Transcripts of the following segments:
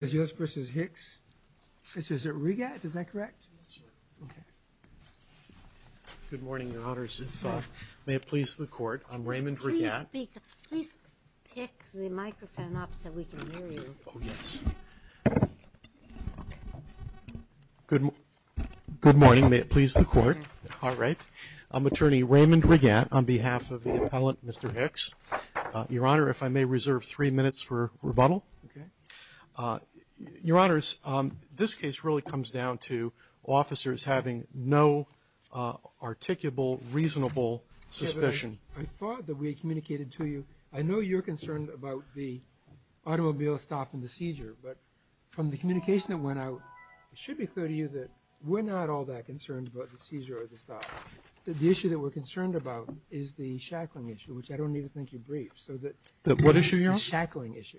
Is yours v. Hicks? Is it Regatte? Is that correct? Yes, sir. Okay. Good morning, Your Honors. May it please the Court, I'm Raymond Regatte. Please pick the microphone up so we can hear you. Oh, yes. Good morning. May it please the Court. All right. I'm Attorney Raymond Regatte on behalf of the appellant, Mr. Hicks. Your Honor, if I may reserve three minutes for rebuttal. Okay. Your Honors, this case really comes down to officers having no articulable, reasonable suspicion. I thought that we communicated to you. I know you're concerned about the automobile stop and the seizure, but from the communication that went out, it should be clear to you that we're not all that concerned about the seizure or the stop. The issue that we're concerned about is the shackling issue, which I don't even think you briefed. What issue, Your Honor? The shackling issue.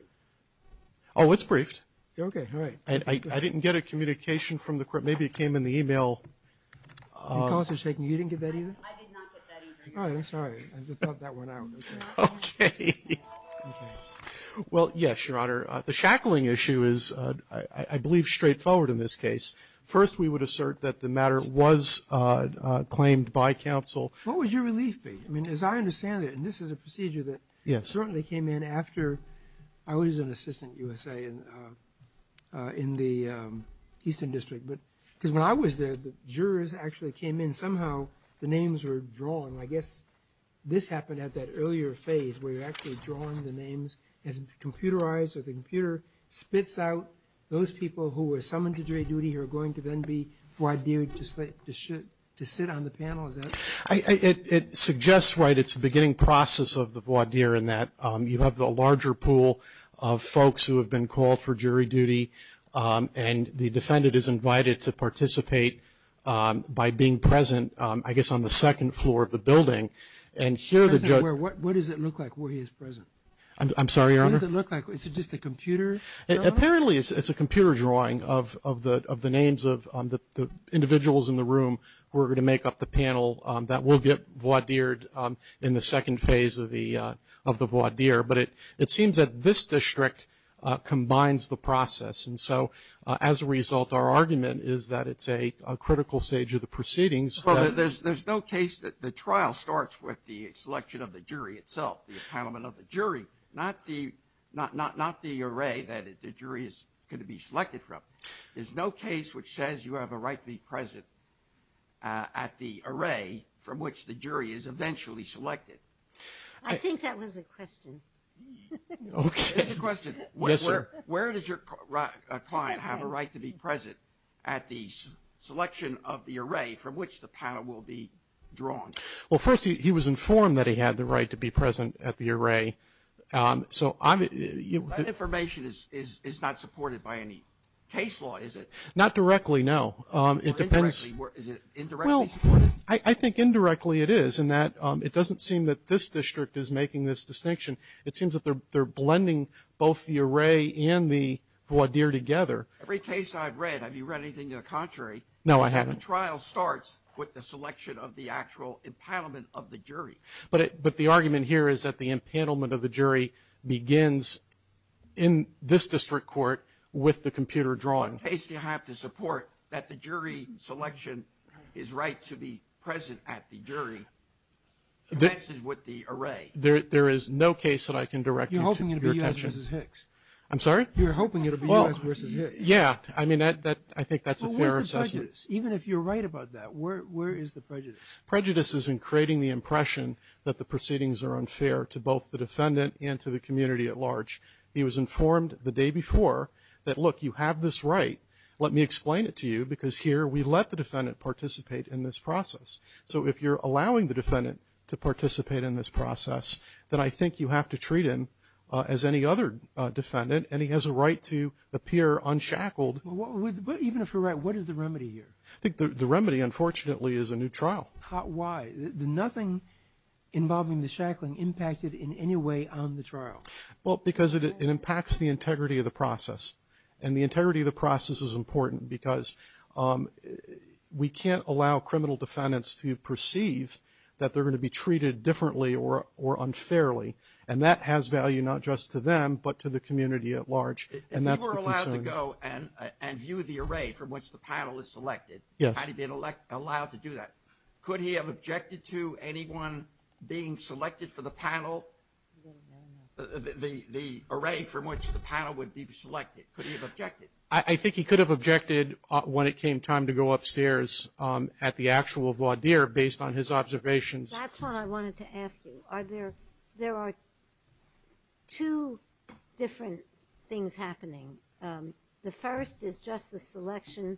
Oh, it's briefed. Okay. All right. I didn't get a communication from the Court. Maybe it came in the e-mail. Your calls are shaking. You didn't get that either? I did not get that either, Your Honor. All right. I'm sorry. I thought that went out. Okay. Well, yes, Your Honor. The shackling issue is, I believe, straightforward in this case. First, we would assert that the matter was claimed by counsel. What would your relief be? I mean, as I understand it, and this is a procedure that certainly came in after I was an assistant U.S.A. in the Eastern District. Because when I was there, the jurors actually came in. Somehow the names were drawn. I guess this happened at that earlier phase where you're actually drawing the names. It's computerized, so the computer spits out those people who were summoned to jury duty who are going to then be voir dire to sit on the panel. Is that right? It suggests, right, it's the beginning process of the voir dire in that you have the larger pool of folks who have been called for jury duty, and the defendant is invited to participate by being present, I guess, on the second floor of the building. What does it look like where he is present? I'm sorry, Your Honor? What does it look like? Is it just a computer? Apparently it's a computer drawing of the names of the individuals in the room who are going to make up the panel that will get voir dired in the second phase of the voir dire, but it seems that this district combines the process. And so as a result, our argument is that it's a critical stage of the proceedings. Well, there's no case that the trial starts with the selection of the jury itself, the appointment of the jury, not the array that the jury is going to be selected from. There's no case which says you have a right to be present at the array from which the jury is eventually selected. I think that was a question. Okay. It's a question. Yes, sir. Where does your client have a right to be present at the selection of the array from which the panel will be drawn? Well, first, he was informed that he had the right to be present at the array. That information is not supported by any case law, is it? Not directly, no. Is it indirectly supported? I think indirectly it is in that it doesn't seem that this district is making this distinction. It seems that they're blending both the array and the voir dire together. Every case I've read, have you read anything to the contrary? No, I haven't. The trial starts with the selection of the actual empanelment of the jury. But the argument here is that the empanelment of the jury begins in this district court with the computer drawing. In which case do you have to support that the jury selection is right to be present at the jury as is with the array? There is no case that I can direct you to your attention. You're hoping it will be U.S. v. Hicks. I'm sorry? You're hoping it will be U.S. v. Hicks. Yeah. I mean, I think that's a fair assessment. But where's the prejudice? Even if you're right about that, where is the prejudice? Prejudice is in creating the impression that the proceedings are unfair to both the defendant and to the community at large. He was informed the day before that, look, you have this right. Let me explain it to you because here we let the defendant participate in this process. So if you're allowing the defendant to participate in this process, then I think you have to treat him as any other defendant. And he has a right to appear unshackled. But even if you're right, what is the remedy here? I think the remedy, unfortunately, is a new trial. Why? Nothing involving the shackling impacted in any way on the trial? Well, because it impacts the integrity of the process. And the integrity of the process is important because we can't allow criminal defendants to perceive that they're going to be treated differently or unfairly. And that has value not just to them but to the community at large. And that's the concern. If he were allowed to go and view the array from which the panel is selected, how would he be allowed to do that? Could he have objected to anyone being selected for the panel? The array from which the panel would be selected. Could he have objected? I think he could have objected when it came time to go upstairs at the actual voir dire based on his observations. That's what I wanted to ask you. There are two different things happening. The first is just the selection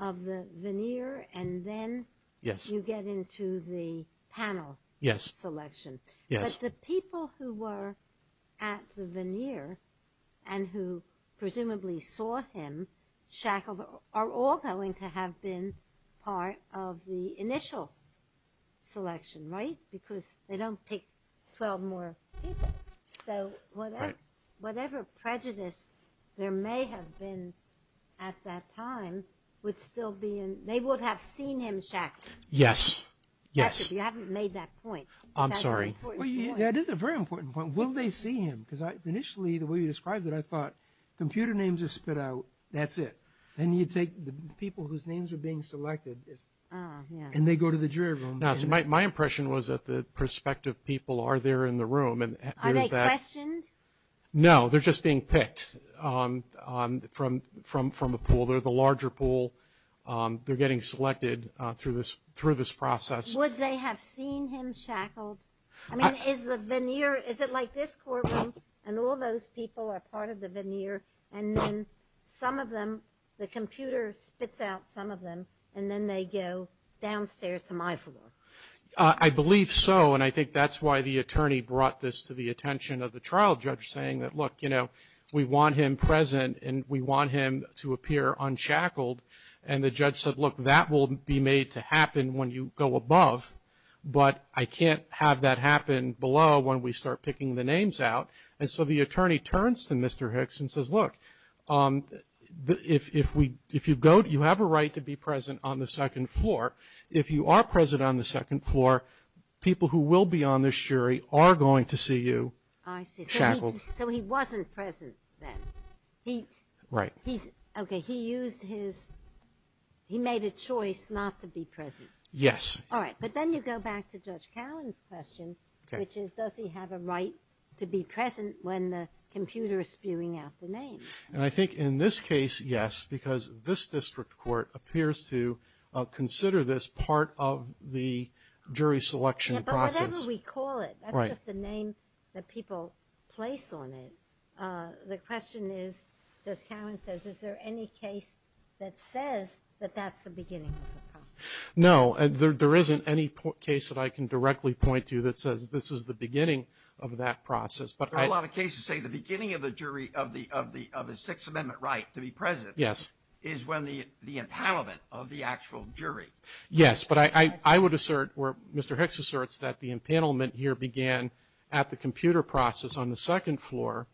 of the veneer, and then you get into the panel selection. Yes. But the people who were at the veneer and who presumably saw him shackled are all going to have been part of the initial selection, right? Because they don't pick 12 more people. Right. So whatever prejudice there may have been at that time, they would have seen him shackled. Yes. Yes. You haven't made that point. I'm sorry. That is a very important point. Will they see him? Because initially the way you described it, I thought computer names are spit out, that's it. Then you take the people whose names are being selected and they go to the jury room. My impression was that the prospective people are there in the room. Are they questioned? No, they're just being picked from a pool. They're the larger pool. They're getting selected through this process. Would they have seen him shackled? I mean, is the veneer, is it like this courtroom and all those people are part of the veneer and then some of them, the computer spits out some of them and then they go downstairs to my floor? I believe so, and I think that's why the attorney brought this to the attention of the trial judge, saying that, look, you know, we want him present and we want him to appear unchackled. And the judge said, look, that will be made to happen when you go above, but I can't have that happen below when we start picking the names out. And so the attorney turns to Mr. Hicks and says, look, if you go, you have a right to be present on the second floor. If you are present on the second floor, people who will be on this jury are going to see you shackled. I see. So he wasn't present then. Right. Okay, he used his, he made a choice not to be present. Yes. All right, but then you go back to Judge Cowan's question, which is does he have a right to be present when the computer is spewing out the names? And I think in this case, yes, because this district court appears to consider this part of the jury selection process. Yeah, but whatever we call it, that's just the name that people place on it. The question is, Judge Cowan says, is there any case that says that that's the beginning of the process? No, there isn't any case that I can directly point to that says this is the beginning of that process. There are a lot of cases that say the beginning of the jury, of the Sixth Amendment right to be present is when the impanelment of the actual jury. Yes, but I would assert, or Mr. Hicks asserts, that the impanelment here began at the computer process on the second floor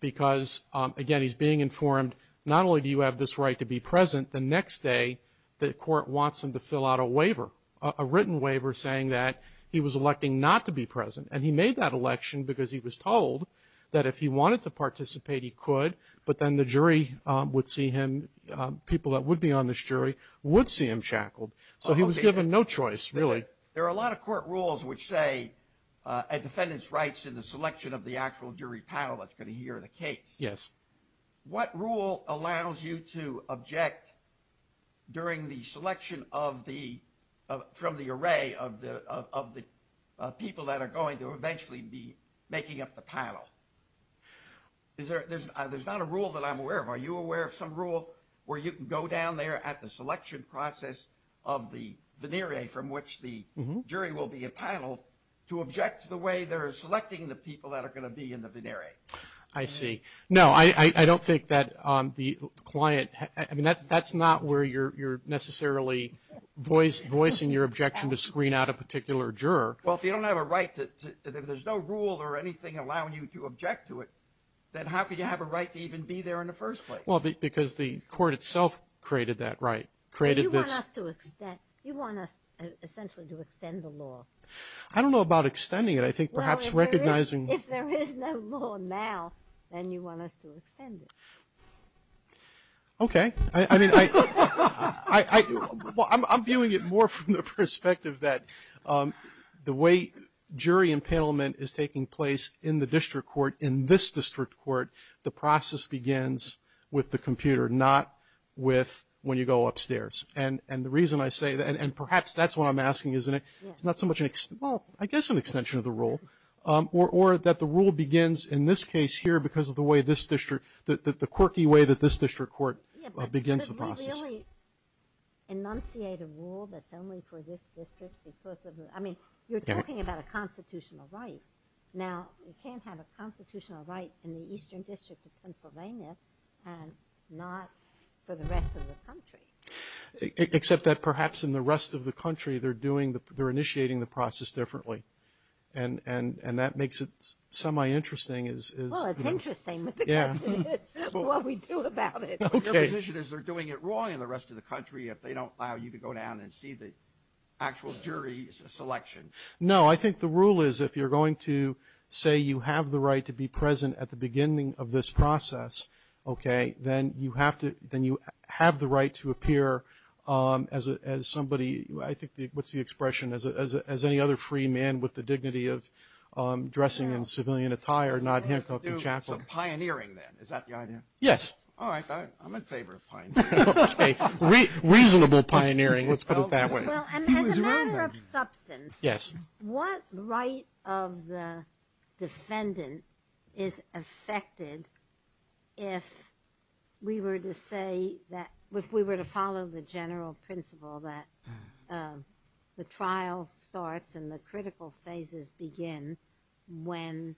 because, again, he's being informed not only do you have this right to be present, the next day the court wants him to fill out a waiver, a written waiver saying that he was electing not to be present. And he made that election because he was told that if he wanted to participate he could, but then the jury would see him, people that would be on this jury, would see him shackled. So he was given no choice, really. But there are a lot of court rules which say, a defendant's rights in the selection of the actual jury panel that's going to hear the case. Yes. What rule allows you to object during the selection of the, from the array of the people that are going to eventually be making up the panel? There's not a rule that I'm aware of. Are you aware of some rule where you can go down there at the selection process of the venere from which the jury will be appaneled to object to the way they're selecting the people that are going to be in the venere? I see. No, I don't think that the client, I mean, that's not where you're necessarily voicing your objection to screen out a particular juror. Well, if you don't have a right to, if there's no rule or anything allowing you to object to it, then how can you have a right to even be there in the first place? Well, because the court itself created that right, created this. You want us to extend, you want us essentially to extend the law. I don't know about extending it. I think perhaps recognizing. Well, if there is no law now, then you want us to extend it. Okay. I mean, I'm viewing it more from the perspective that the way jury appanelment is taking place in the district court, in this district court, the process begins with the computer, not with when you go upstairs. And the reason I say that, and perhaps that's what I'm asking, isn't it? Yes. It's not so much an, well, I guess an extension of the rule, or that the rule begins in this case here because of the way this district, the quirky way that this district court begins the process. But we really enunciate a rule that's only for this district because of the, I mean, you're talking about a constitutional right. Now, you can't have a constitutional right in the eastern district of Pennsylvania and not for the rest of the country. Except that perhaps in the rest of the country they're doing, they're initiating the process differently. And that makes it semi-interesting. Well, it's interesting what the question is, what we do about it. Okay. Your position is they're doing it wrong in the rest of the country if they don't allow you to go down and see the actual jury selection. No. I think the rule is if you're going to say you have the right to be present at the beginning of this process, okay, then you have the right to appear as somebody, I think what's the expression, as any other free man with the dignity of dressing in civilian attire, not Hancock the chaplain. So pioneering then. Is that the idea? Yes. All right. I'm in favor of pioneering. Okay. Reasonable pioneering. Let's put it that way. Well, as a matter of substance, what right of the defendant is affected if we were to say that, if we were to follow the general principle that the trial starts and the critical phases begin when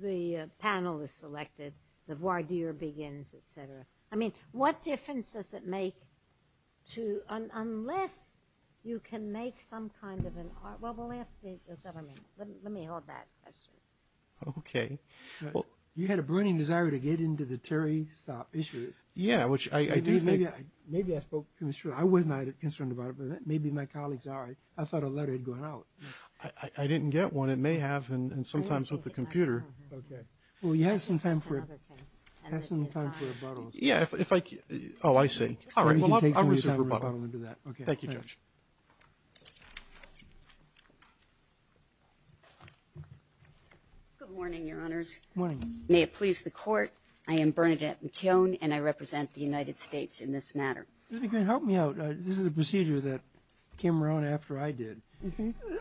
the panel is selected, the voir dire begins, et cetera. I mean, what difference does it make to, unless you can make some kind of an, well, we'll ask the government. Let me hold that question. Okay. You had a burning desire to get into the Terry Stopp issue. Yeah, which I do think. Maybe I spoke too soon. I was not concerned about it, but maybe my colleagues are. I thought a letter had gone out. I didn't get one. It may have, and sometimes with the computer. Okay. Well, you have some time for it. Yeah. Oh, I see. All right. Thank you, Judge. Good morning, Your Honors. May it please the court. I am Bernadette McKeown and I represent the United States in this matter. Help me out. This is a procedure that came around after I did.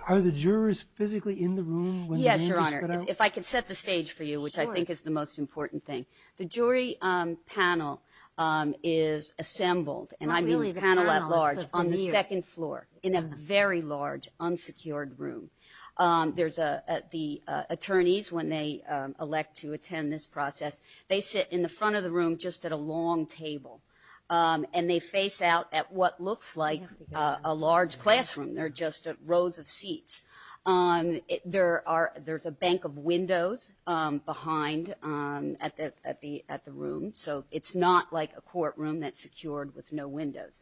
Are the jurors physically in the room? Yes, Your Honor. If I could set the stage for you, which I think is the most important thing. The jury panel is assembled, and I mean panel at large, on the second floor in a very large unsecured room. The attorneys, when they elect to attend this process, they sit in the front of the room just at a long table, and they face out at what looks like a large classroom. There are just rows of seats. There's a bank of windows behind at the room, so it's not like a courtroom that's secured with no windows.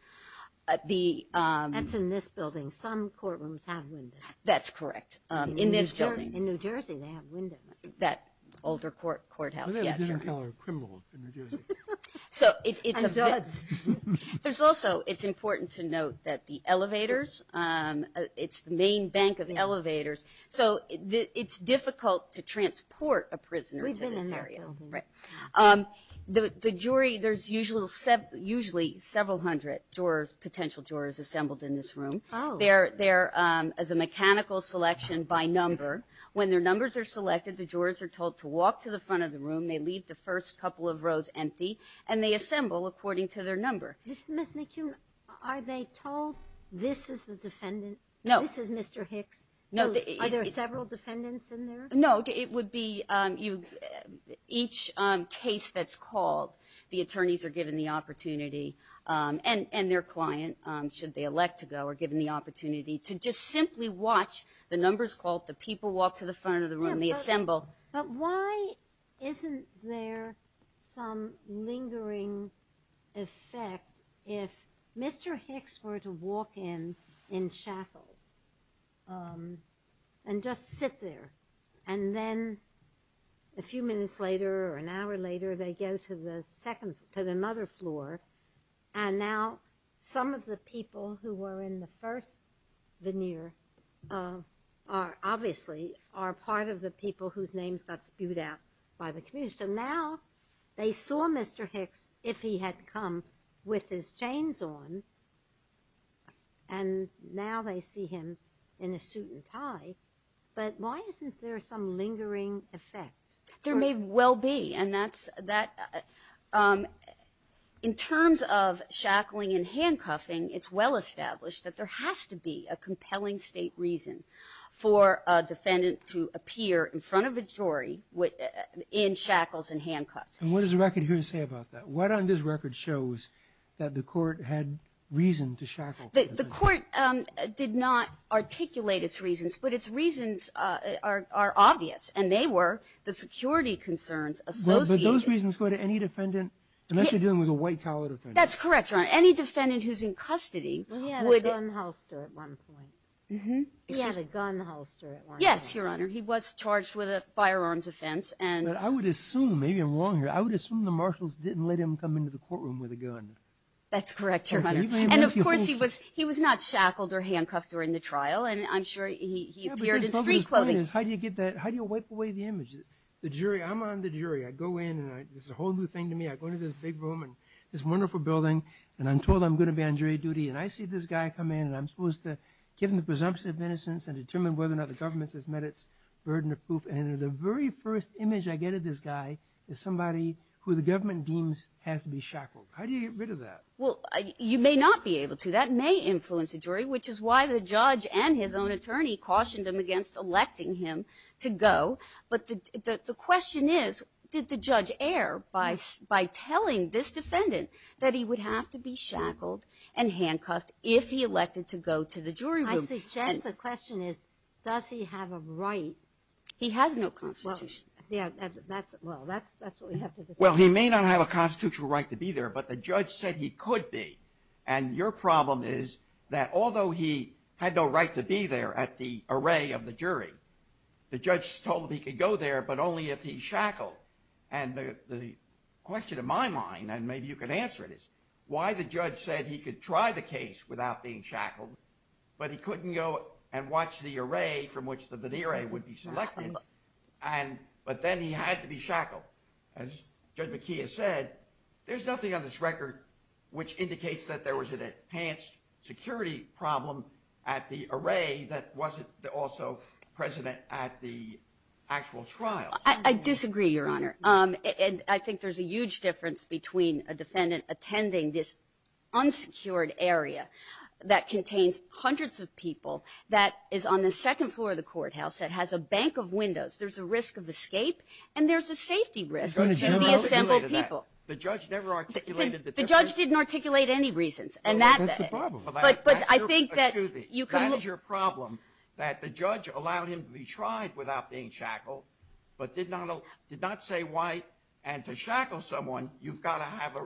That's in this building. Some courtrooms have windows. That's correct. In this building. In New Jersey they have windows. That older courthouse, yes, Your Honor. I thought we didn't call her a criminal in New Jersey. I'm a judge. There's also, it's important to note that the elevators, it's the main bank of elevators, so it's difficult to transport a prisoner to this area. We've been in that building. Right. The jury, there's usually several hundred potential jurors assembled in this room. They're as a mechanical selection by number. When their numbers are selected, the jurors are told to walk to the front of the room. They leave the first couple of rows empty, and they assemble according to their number. Ms. McHugh, are they told this is the defendant? No. This is Mr. Hicks. Are there several defendants in there? No. It would be each case that's called, the attorneys are given the opportunity, and their client, should they elect to go, are given the opportunity to just simply watch the numbers called, the people walk to the front of the room, they assemble. But why isn't there some lingering effect if Mr. Hicks were to walk in, in shackles, and just sit there, and then a few minutes later or an hour later, they go to the second, to the mother floor, and now some of the people who were in the first veneer are, obviously, are part of the people whose names got spewed out by the community. So now they saw Mr. Hicks, if he had come, with his chains on, and now they see him in a suit and tie. But why isn't there some lingering effect? There may well be, and that's, in terms of shackling and handcuffing, it's well established that there has to be a compelling state reason for a defendant to appear in front of a jury in shackles and handcuffs. And what does the record here say about that? What on this record shows that the court had reason to shackle? The court did not articulate its reasons, but its reasons are obvious, and they were the security concerns associated. But those reasons go to any defendant, unless you're dealing with a white-collar defendant. That's correct, Your Honor. Any defendant who's in custody would— He had a gun holster at one point. Mm-hmm. He had a gun holster at one point. Yes, Your Honor. He was charged with a firearms offense. I would assume, maybe I'm wrong here, I would assume the marshals didn't let him come into the courtroom with a gun. That's correct, Your Honor. And, of course, he was not shackled or handcuffed during the trial, and I'm sure he appeared in street clothing. How do you get that? How do you wipe away the image? I'm on the jury. I go in, and it's a whole new thing to me. I go into this big room and this wonderful building, and I'm told I'm going to be on jury duty. And I see this guy come in, and I'm supposed to give him the presumption of innocence and determine whether or not the government has met its burden of proof. And the very first image I get of this guy is somebody who the government deems has to be shackled. How do you get rid of that? Well, you may not be able to. That may influence a jury, which is why the judge and his own attorney cautioned him against electing him to go. But the question is, did the judge err by telling this defendant that he would have to be shackled and handcuffed if he elected to go to the jury room? I suggest the question is, does he have a right? He has no constitution. Well, that's what we have to decide. Well, he may not have a constitutional right to be there, but the judge said he could be. And your problem is that although he had no right to be there at the array of the jury, the judge told him he could go there, but only if he's shackled. And the question in my mind, and maybe you can answer it, is why the judge said he could try the case without being shackled, but he couldn't go and watch the array from which the veneer would be selected, but then he had to be shackled. As Judge McKee has said, there's nothing on this record which indicates that there was an enhanced security problem at the array that wasn't also present at the actual trial. I disagree, Your Honor. I think there's a huge difference between a defendant attending this unsecured area that contains hundreds of people that is on the second floor of the courthouse that has a bank of windows. There's a risk of escape, and there's a safety risk to the assembled people. The judge never articulated that. The judge didn't articulate any reasons. That's the problem. Excuse me. That is your problem, that the judge allowed him to be tried without being shackled, but did not say why. And to shackle someone, you've got to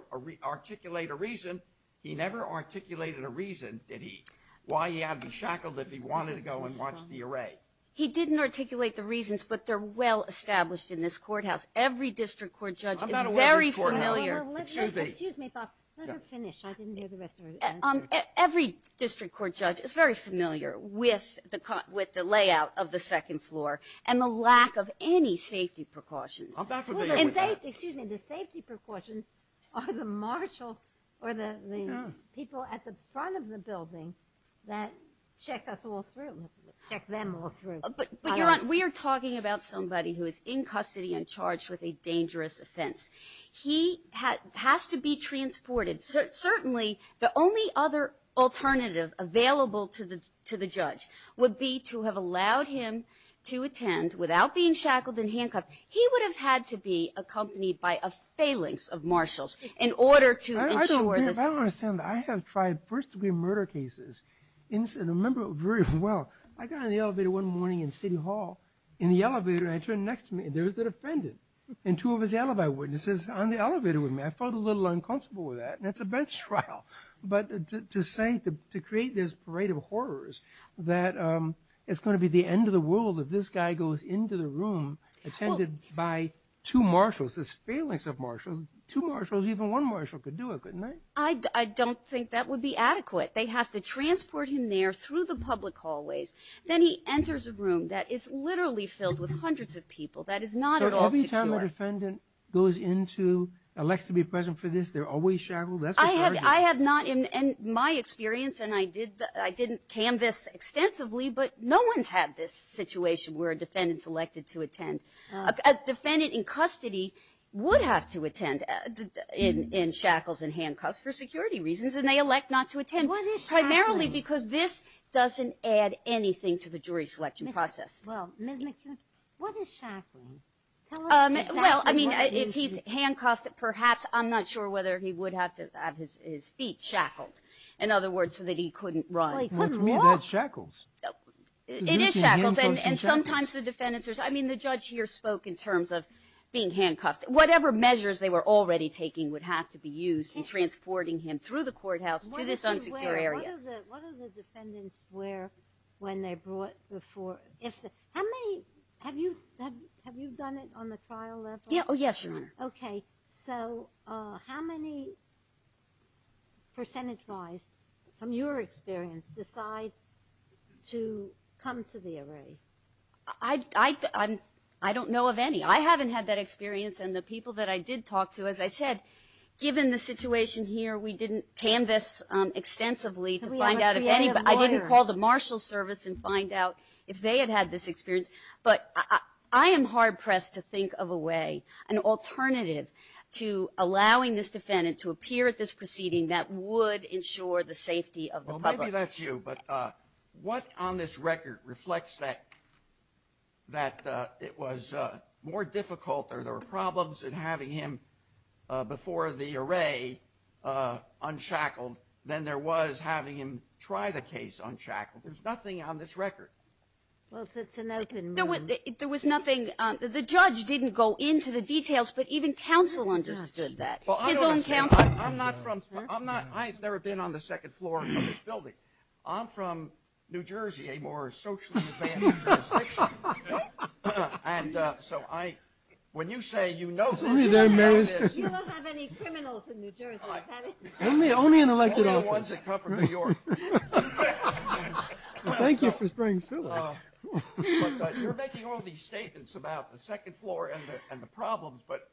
articulate a reason. He never articulated a reason, did he, why he had to be shackled if he wanted to go and watch the array. He didn't articulate the reasons, but they're well established in this courthouse. Every district court judge is very familiar. Excuse me. Let her finish. I didn't hear the rest of her answer. Every district court judge is very familiar with the layout of the second floor and the lack of any safety precautions. I'm not familiar with that. The safety precautions are the marshals or the people at the front of the building that check us all through, check them all through. But, Your Honor, we are talking about somebody who is in custody and charged with a dangerous offense. He has to be transported. Certainly, the only other alternative available to the judge would be to have allowed him to attend without being shackled and handcuffed. He would have had to be accompanied by a phalanx of marshals in order to ensure this. I don't understand. I have tried first-degree murder cases. And I remember it very well. I got on the elevator one morning in City Hall. In the elevator, I turned next to me, and there was the defendant and two of his alibi witnesses on the elevator with me. I felt a little uncomfortable with that, and it's a bench trial. But to say, to create this parade of horrors that it's going to be the end of the world if this guy goes into the room attended by two marshals, this phalanx of marshals, two marshals, even one marshal could do it, couldn't they? I don't think that would be adequate. They have to transport him there through the public hallways. Then he enters a room that is literally filled with hundreds of people. That is not at all secure. Every time a defendant goes into, elects to be present for this, they're always shackled? I have not in my experience, and I didn't canvass extensively, but no one's had this situation where a defendant's elected to attend. A defendant in custody would have to attend in shackles and handcuffs for security reasons, and they elect not to attend primarily because this doesn't add anything to the jury selection process. Well, Ms. McHugh, what is shackling? Tell us exactly what it is. Well, I mean, if he's handcuffed, perhaps, I'm not sure whether he would have to have his feet shackled, in other words, so that he couldn't run. Well, he couldn't walk. To me, that's shackles. It is shackles, and sometimes the defendants are, I mean, the judge here spoke in terms of being handcuffed. Whatever measures they were already taking would have to be used in transporting him through the courthouse to this unsecure area. What are the defendants wear when they're brought before? Have you done it on the trial level? Yes, Your Honor. Okay. So how many percentage-wise, from your experience, decide to come to the array? I don't know of any. I haven't had that experience, and the people that I did talk to, as I said, given the situation here, we didn't canvass extensively to find out. I didn't call the marshal's service and find out if they had had this experience. But I am hard-pressed to think of a way, an alternative to allowing this defendant to appear at this proceeding that would ensure the safety of the public. Well, maybe that's you, but what on this record reflects that it was more difficult or there were problems in having him before the array unshackled than there was having him try the case unshackled. There's nothing on this record. Well, it's an open one. There was nothing. The judge didn't go into the details, but even counsel understood that. His own counsel. I'm not from – I've never been on the second floor of this building. I'm from New Jersey, a more socially advanced jurisdiction. And so I – when you say you know – You don't have any criminals in New Jersey, is that it? Only the ones that come from New York. Thank you for spraying filler. You're making all these statements about the second floor and the problems, but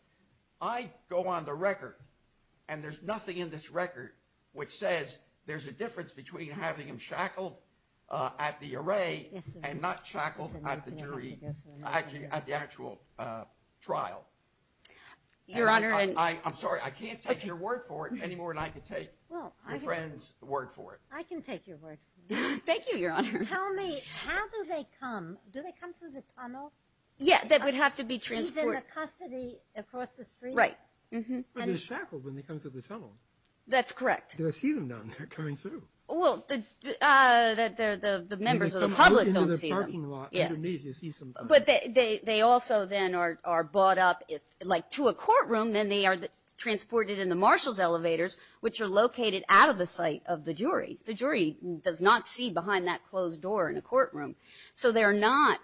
I go on the record and there's nothing in this record which says there's a difference between having him shackled at the array and not shackled at the jury – at the actual trial. Your Honor. I'm sorry. I can't take your word for it anymore than I can take your friend's word for it. I can take your word for it. Thank you, Your Honor. Tell me, how do they come? Do they come through the tunnel? Yeah, that would have to be transported. He's in the custody across the street? Right. But they're shackled when they come through the tunnel. That's correct. Do I see them down there coming through? Well, the members of the public don't see them. In the parking lot underneath, you see some of them. But they also then are brought up – like to a courtroom, then they are transported in the marshal's elevators, which are located out of the sight of the jury. The jury does not see behind that closed door in a courtroom, so they are not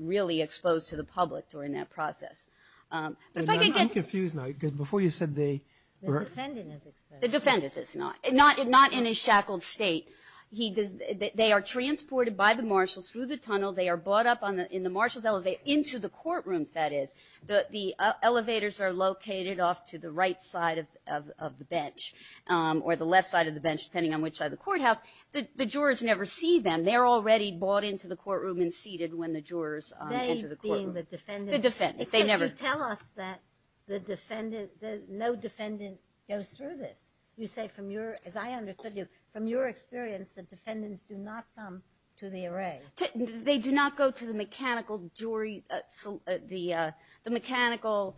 really exposed to the public during that process. But if I could get – I'm confused now because before you said they – The defendant is exposed. The defendant is not. Not in a shackled state. They are transported by the marshals through the tunnel. They are brought up in the marshal's – into the courtrooms, that is. The elevators are located off to the right side of the bench or the left side of the bench, depending on which side of the courthouse. The jurors never see them. They are already brought into the courtroom and seated when the jurors enter the courtroom. They being the defendants. The defendants. You say from your – as I understood you, from your experience, the defendants do not come to the array. They do not go to the mechanical jury – the mechanical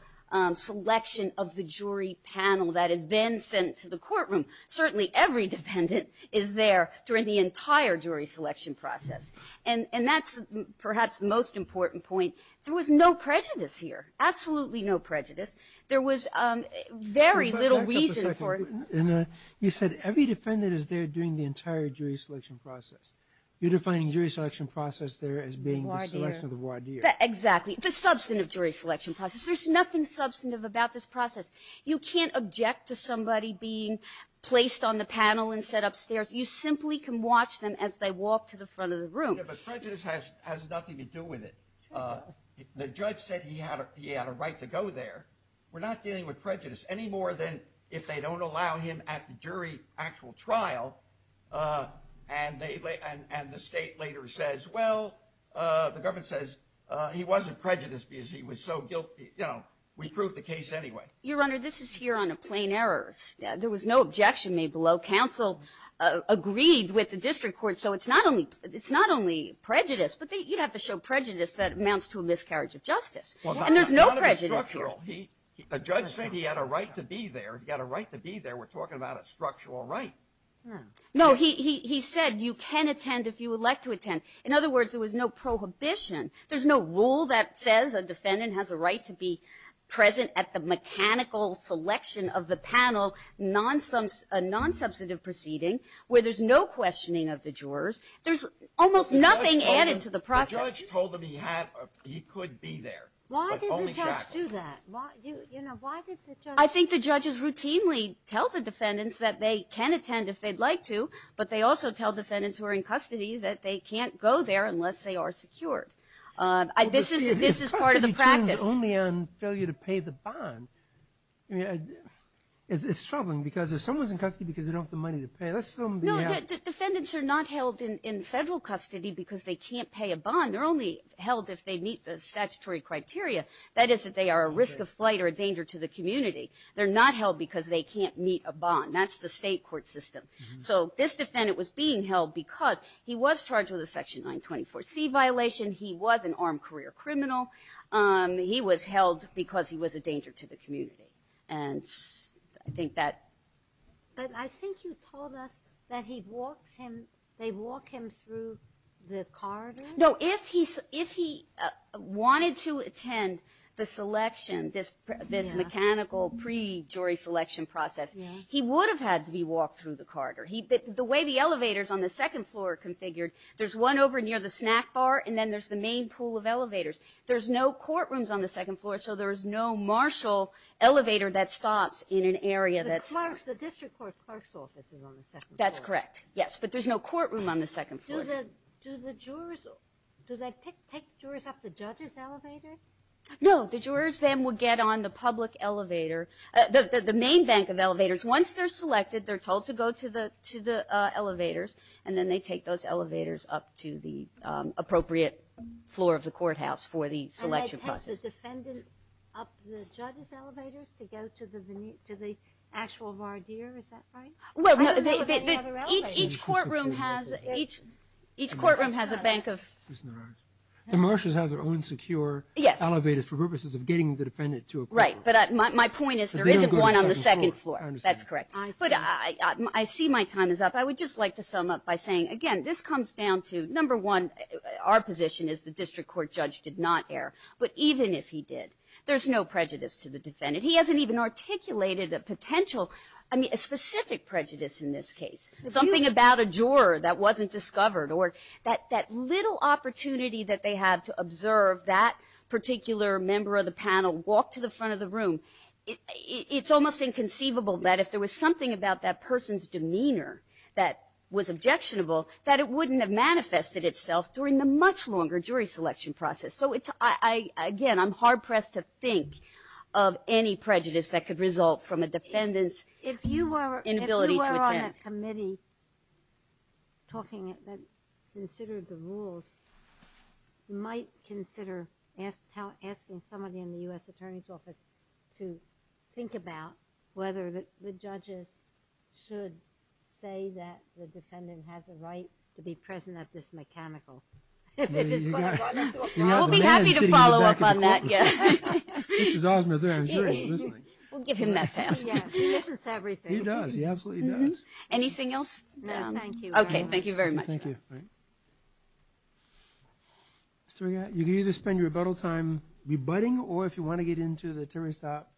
selection of the jury panel that has been sent to the courtroom. Certainly every defendant is there during the entire jury selection process. And that's perhaps the most important point. There was no prejudice here, absolutely no prejudice. There was very little reason for it. You said every defendant is there during the entire jury selection process. You're defining jury selection process there as being the selection of the voir dire. Exactly. The substantive jury selection process. There's nothing substantive about this process. You can't object to somebody being placed on the panel and set upstairs. You simply can watch them as they walk to the front of the room. Yeah, but prejudice has nothing to do with it. The judge said he had a right to go there. We're not dealing with prejudice any more than if they don't allow him at the jury actual trial and the state later says, well, the government says he wasn't prejudiced because he was so guilty. We proved the case anyway. Your Honor, this is here on a plain error. There was no objection made below. Counsel agreed with the district court. So it's not only prejudice. But you'd have to show prejudice that amounts to a miscarriage of justice. And there's no prejudice here. The judge said he had a right to be there. He had a right to be there. We're talking about a structural right. No, he said you can attend if you would like to attend. In other words, there was no prohibition. There's no rule that says a defendant has a right to be present at the mechanical selection of the panel, a nonsubstantive proceeding where there's no questioning of the jurors. There's almost nothing added to the process. The judge told him he could be there. Why did the judge do that? You know, why did the judge? I think the judges routinely tell the defendants that they can attend if they'd like to, but they also tell defendants who are in custody that they can't go there unless they are secured. This is part of the practice. If custody determines only on failure to pay the bond, it's troubling because if someone's in custody because they don't have the money to pay, Defendants are not held in federal custody because they can't pay a bond. They're only held if they meet the statutory criteria, that is if they are a risk of flight or a danger to the community. They're not held because they can't meet a bond. That's the state court system. So this defendant was being held because he was charged with a Section 924C violation. He was an armed career criminal. He was held because he was a danger to the community. I think that... But I think you told us that they walk him through the corridor. No. If he wanted to attend the selection, this mechanical pre-jury selection process, he would have had to be walked through the corridor. The way the elevators on the second floor are configured, there's one over near the snack bar, and then there's the main pool of elevators. There's no courtrooms on the second floor, so there's no marshal elevator that stops in an area that's... The district court clerk's office is on the second floor. That's correct. Yes, but there's no courtroom on the second floor. Do the jurors... Do they pick jurors up the judges' elevators? No. The jurors then would get on the public elevator, the main bank of elevators. Once they're selected, they're told to go to the elevators, and then they take those elevators up to the appropriate floor of the courthouse for the selection process. And they take the defendant up the judges' elevators to go to the actual voir dire. Is that right? Well, no. Each courtroom has a bank of... The marshals have their own secure elevators for purposes of getting the defendant to a court. Right, but my point is there isn't one on the second floor. That's correct. But I see my time is up. I would just like to sum up by saying, again, this comes down to, number one, our position is the district court judge did not err, but even if he did, there's no prejudice to the defendant. He hasn't even articulated a potential, I mean, a specific prejudice in this case, something about a juror that wasn't discovered, or that little opportunity that they had to observe that particular member of the panel walk to the front of the room. It's almost inconceivable that if there was something about that person's demeanor that was objectionable, that it wouldn't have manifested itself during the much longer jury selection process. So, again, I'm hard-pressed to think of any prejudice that could result from a defendant's inability to attend. If you were on a committee talking and considered the rules, you might consider asking somebody in the U.S. Attorney's Office to think about whether the judges should say that the defendant has a right to be present at this mechanical. If it is going to run into a problem. We'll be happy to follow up on that, yes. We'll give him that chance. He listens to everything. He does. He absolutely does. Anything else? No, thank you. Okay, thank you very much. Thank you. Mr. Regatta, you can either spend your rebuttal time rebutting, or if you want to get into the Terry Stop,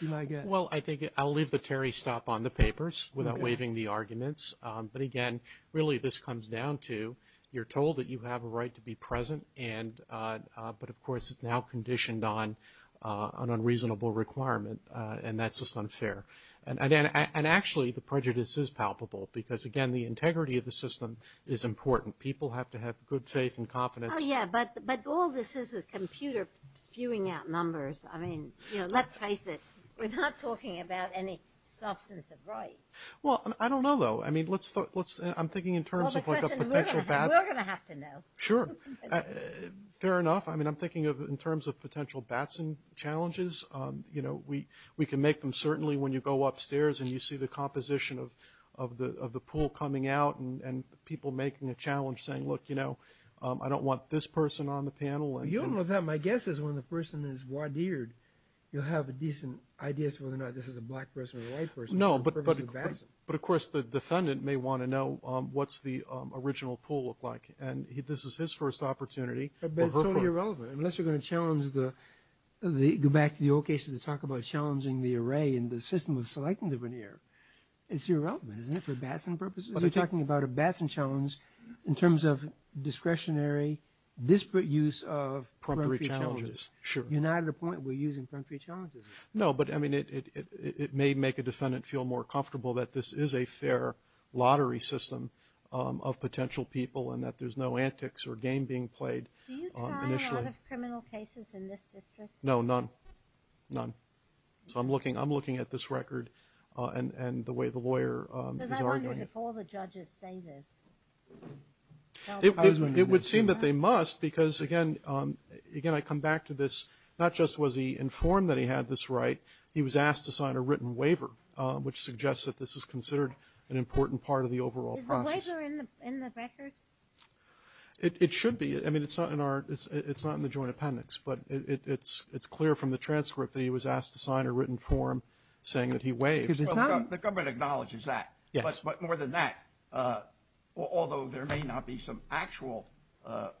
you might get. Well, I think I'll leave the Terry Stop on the papers without waiving the arguments. But, again, really this comes down to you're told that you have a right to be present, but of course it's now conditioned on an unreasonable requirement, and that's just unfair. And actually the prejudice is palpable because, again, the integrity of the system is important. People have to have good faith and confidence. Oh, yeah, but all this is a computer spewing out numbers. I mean, you know, let's face it. We're not talking about any substantive right. Well, I don't know, though. I mean, I'm thinking in terms of like a potential bat. Well, the question we're going to have to know. Sure. Fair enough. I mean, I'm thinking in terms of potential batson challenges. You know, we can make them certainly when you go upstairs and you see the composition of the pool coming out and people making a challenge saying, look, you know, I don't want this person on the panel. You don't know that. My guess is when the person is voir dired, you'll have a decent idea as to whether or not this is a black person or a white person. No, but of course the defendant may want to know what's the original pool look like, and this is his first opportunity. But it's totally irrelevant unless you're going to challenge the – It's irrelevant, isn't it, for batson purposes? You're talking about a batson challenge in terms of discretionary, disparate use of – Proprietary challenges. Sure. You're not at a point where you're using proprietary challenges. No, but, I mean, it may make a defendant feel more comfortable that this is a fair lottery system of potential people and that there's no antics or game being played initially. Do you try a lot of criminal cases in this district? No, none. None. So I'm looking at this record and the way the lawyer is arguing it. Because I wonder if all the judges say this. It would seem that they must because, again, I come back to this, not just was he informed that he had this right, he was asked to sign a written waiver, which suggests that this is considered an important part of the overall process. Is the waiver in the record? It should be. I mean, it's not in the joint appendix, but it's clear from the transcript that he was asked to sign a written form saying that he waived. Well, the government acknowledges that. Yes. But more than that, although there may not be some actual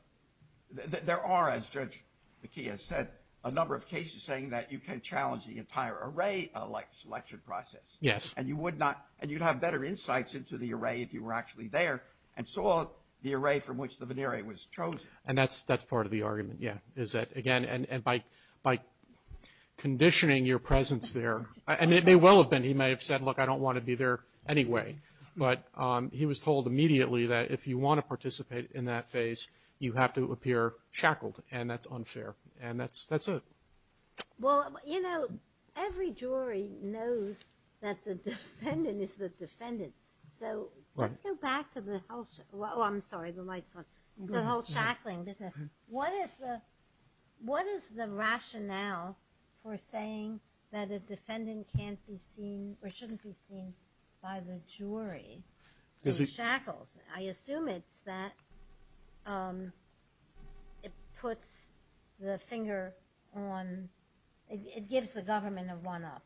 – there are, as Judge McKee has said, a number of cases saying that you can challenge the entire array selection process. Yes. And you would not – and you'd have better insights into the array if you were actually there and saw the array from which the veneer was chosen. And that's part of the argument, yeah. Is that, again, and by conditioning your presence there – and it may well have been. He may have said, look, I don't want to be there anyway. But he was told immediately that if you want to participate in that phase, you have to appear shackled, and that's unfair. And that's it. Well, you know, every jury knows that the defendant is the defendant. So let's go back to the whole – oh, I'm sorry, the light's on – the whole shackling business. What is the rationale for saying that a defendant can't be seen or shouldn't be seen by the jury in shackles? I assume it's that it puts the finger on – it gives the government a one-up,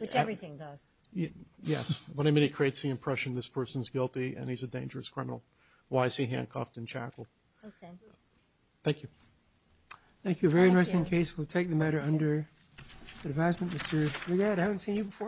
which everything does. Yes. What I mean, it creates the impression this person's guilty and he's a dangerous criminal. Why is he handcuffed and shackled? I don't know. Okay. Thank you. Thank you. A very interesting case. We'll take the matter under advisement. Mr. Regatta, I haven't seen you before.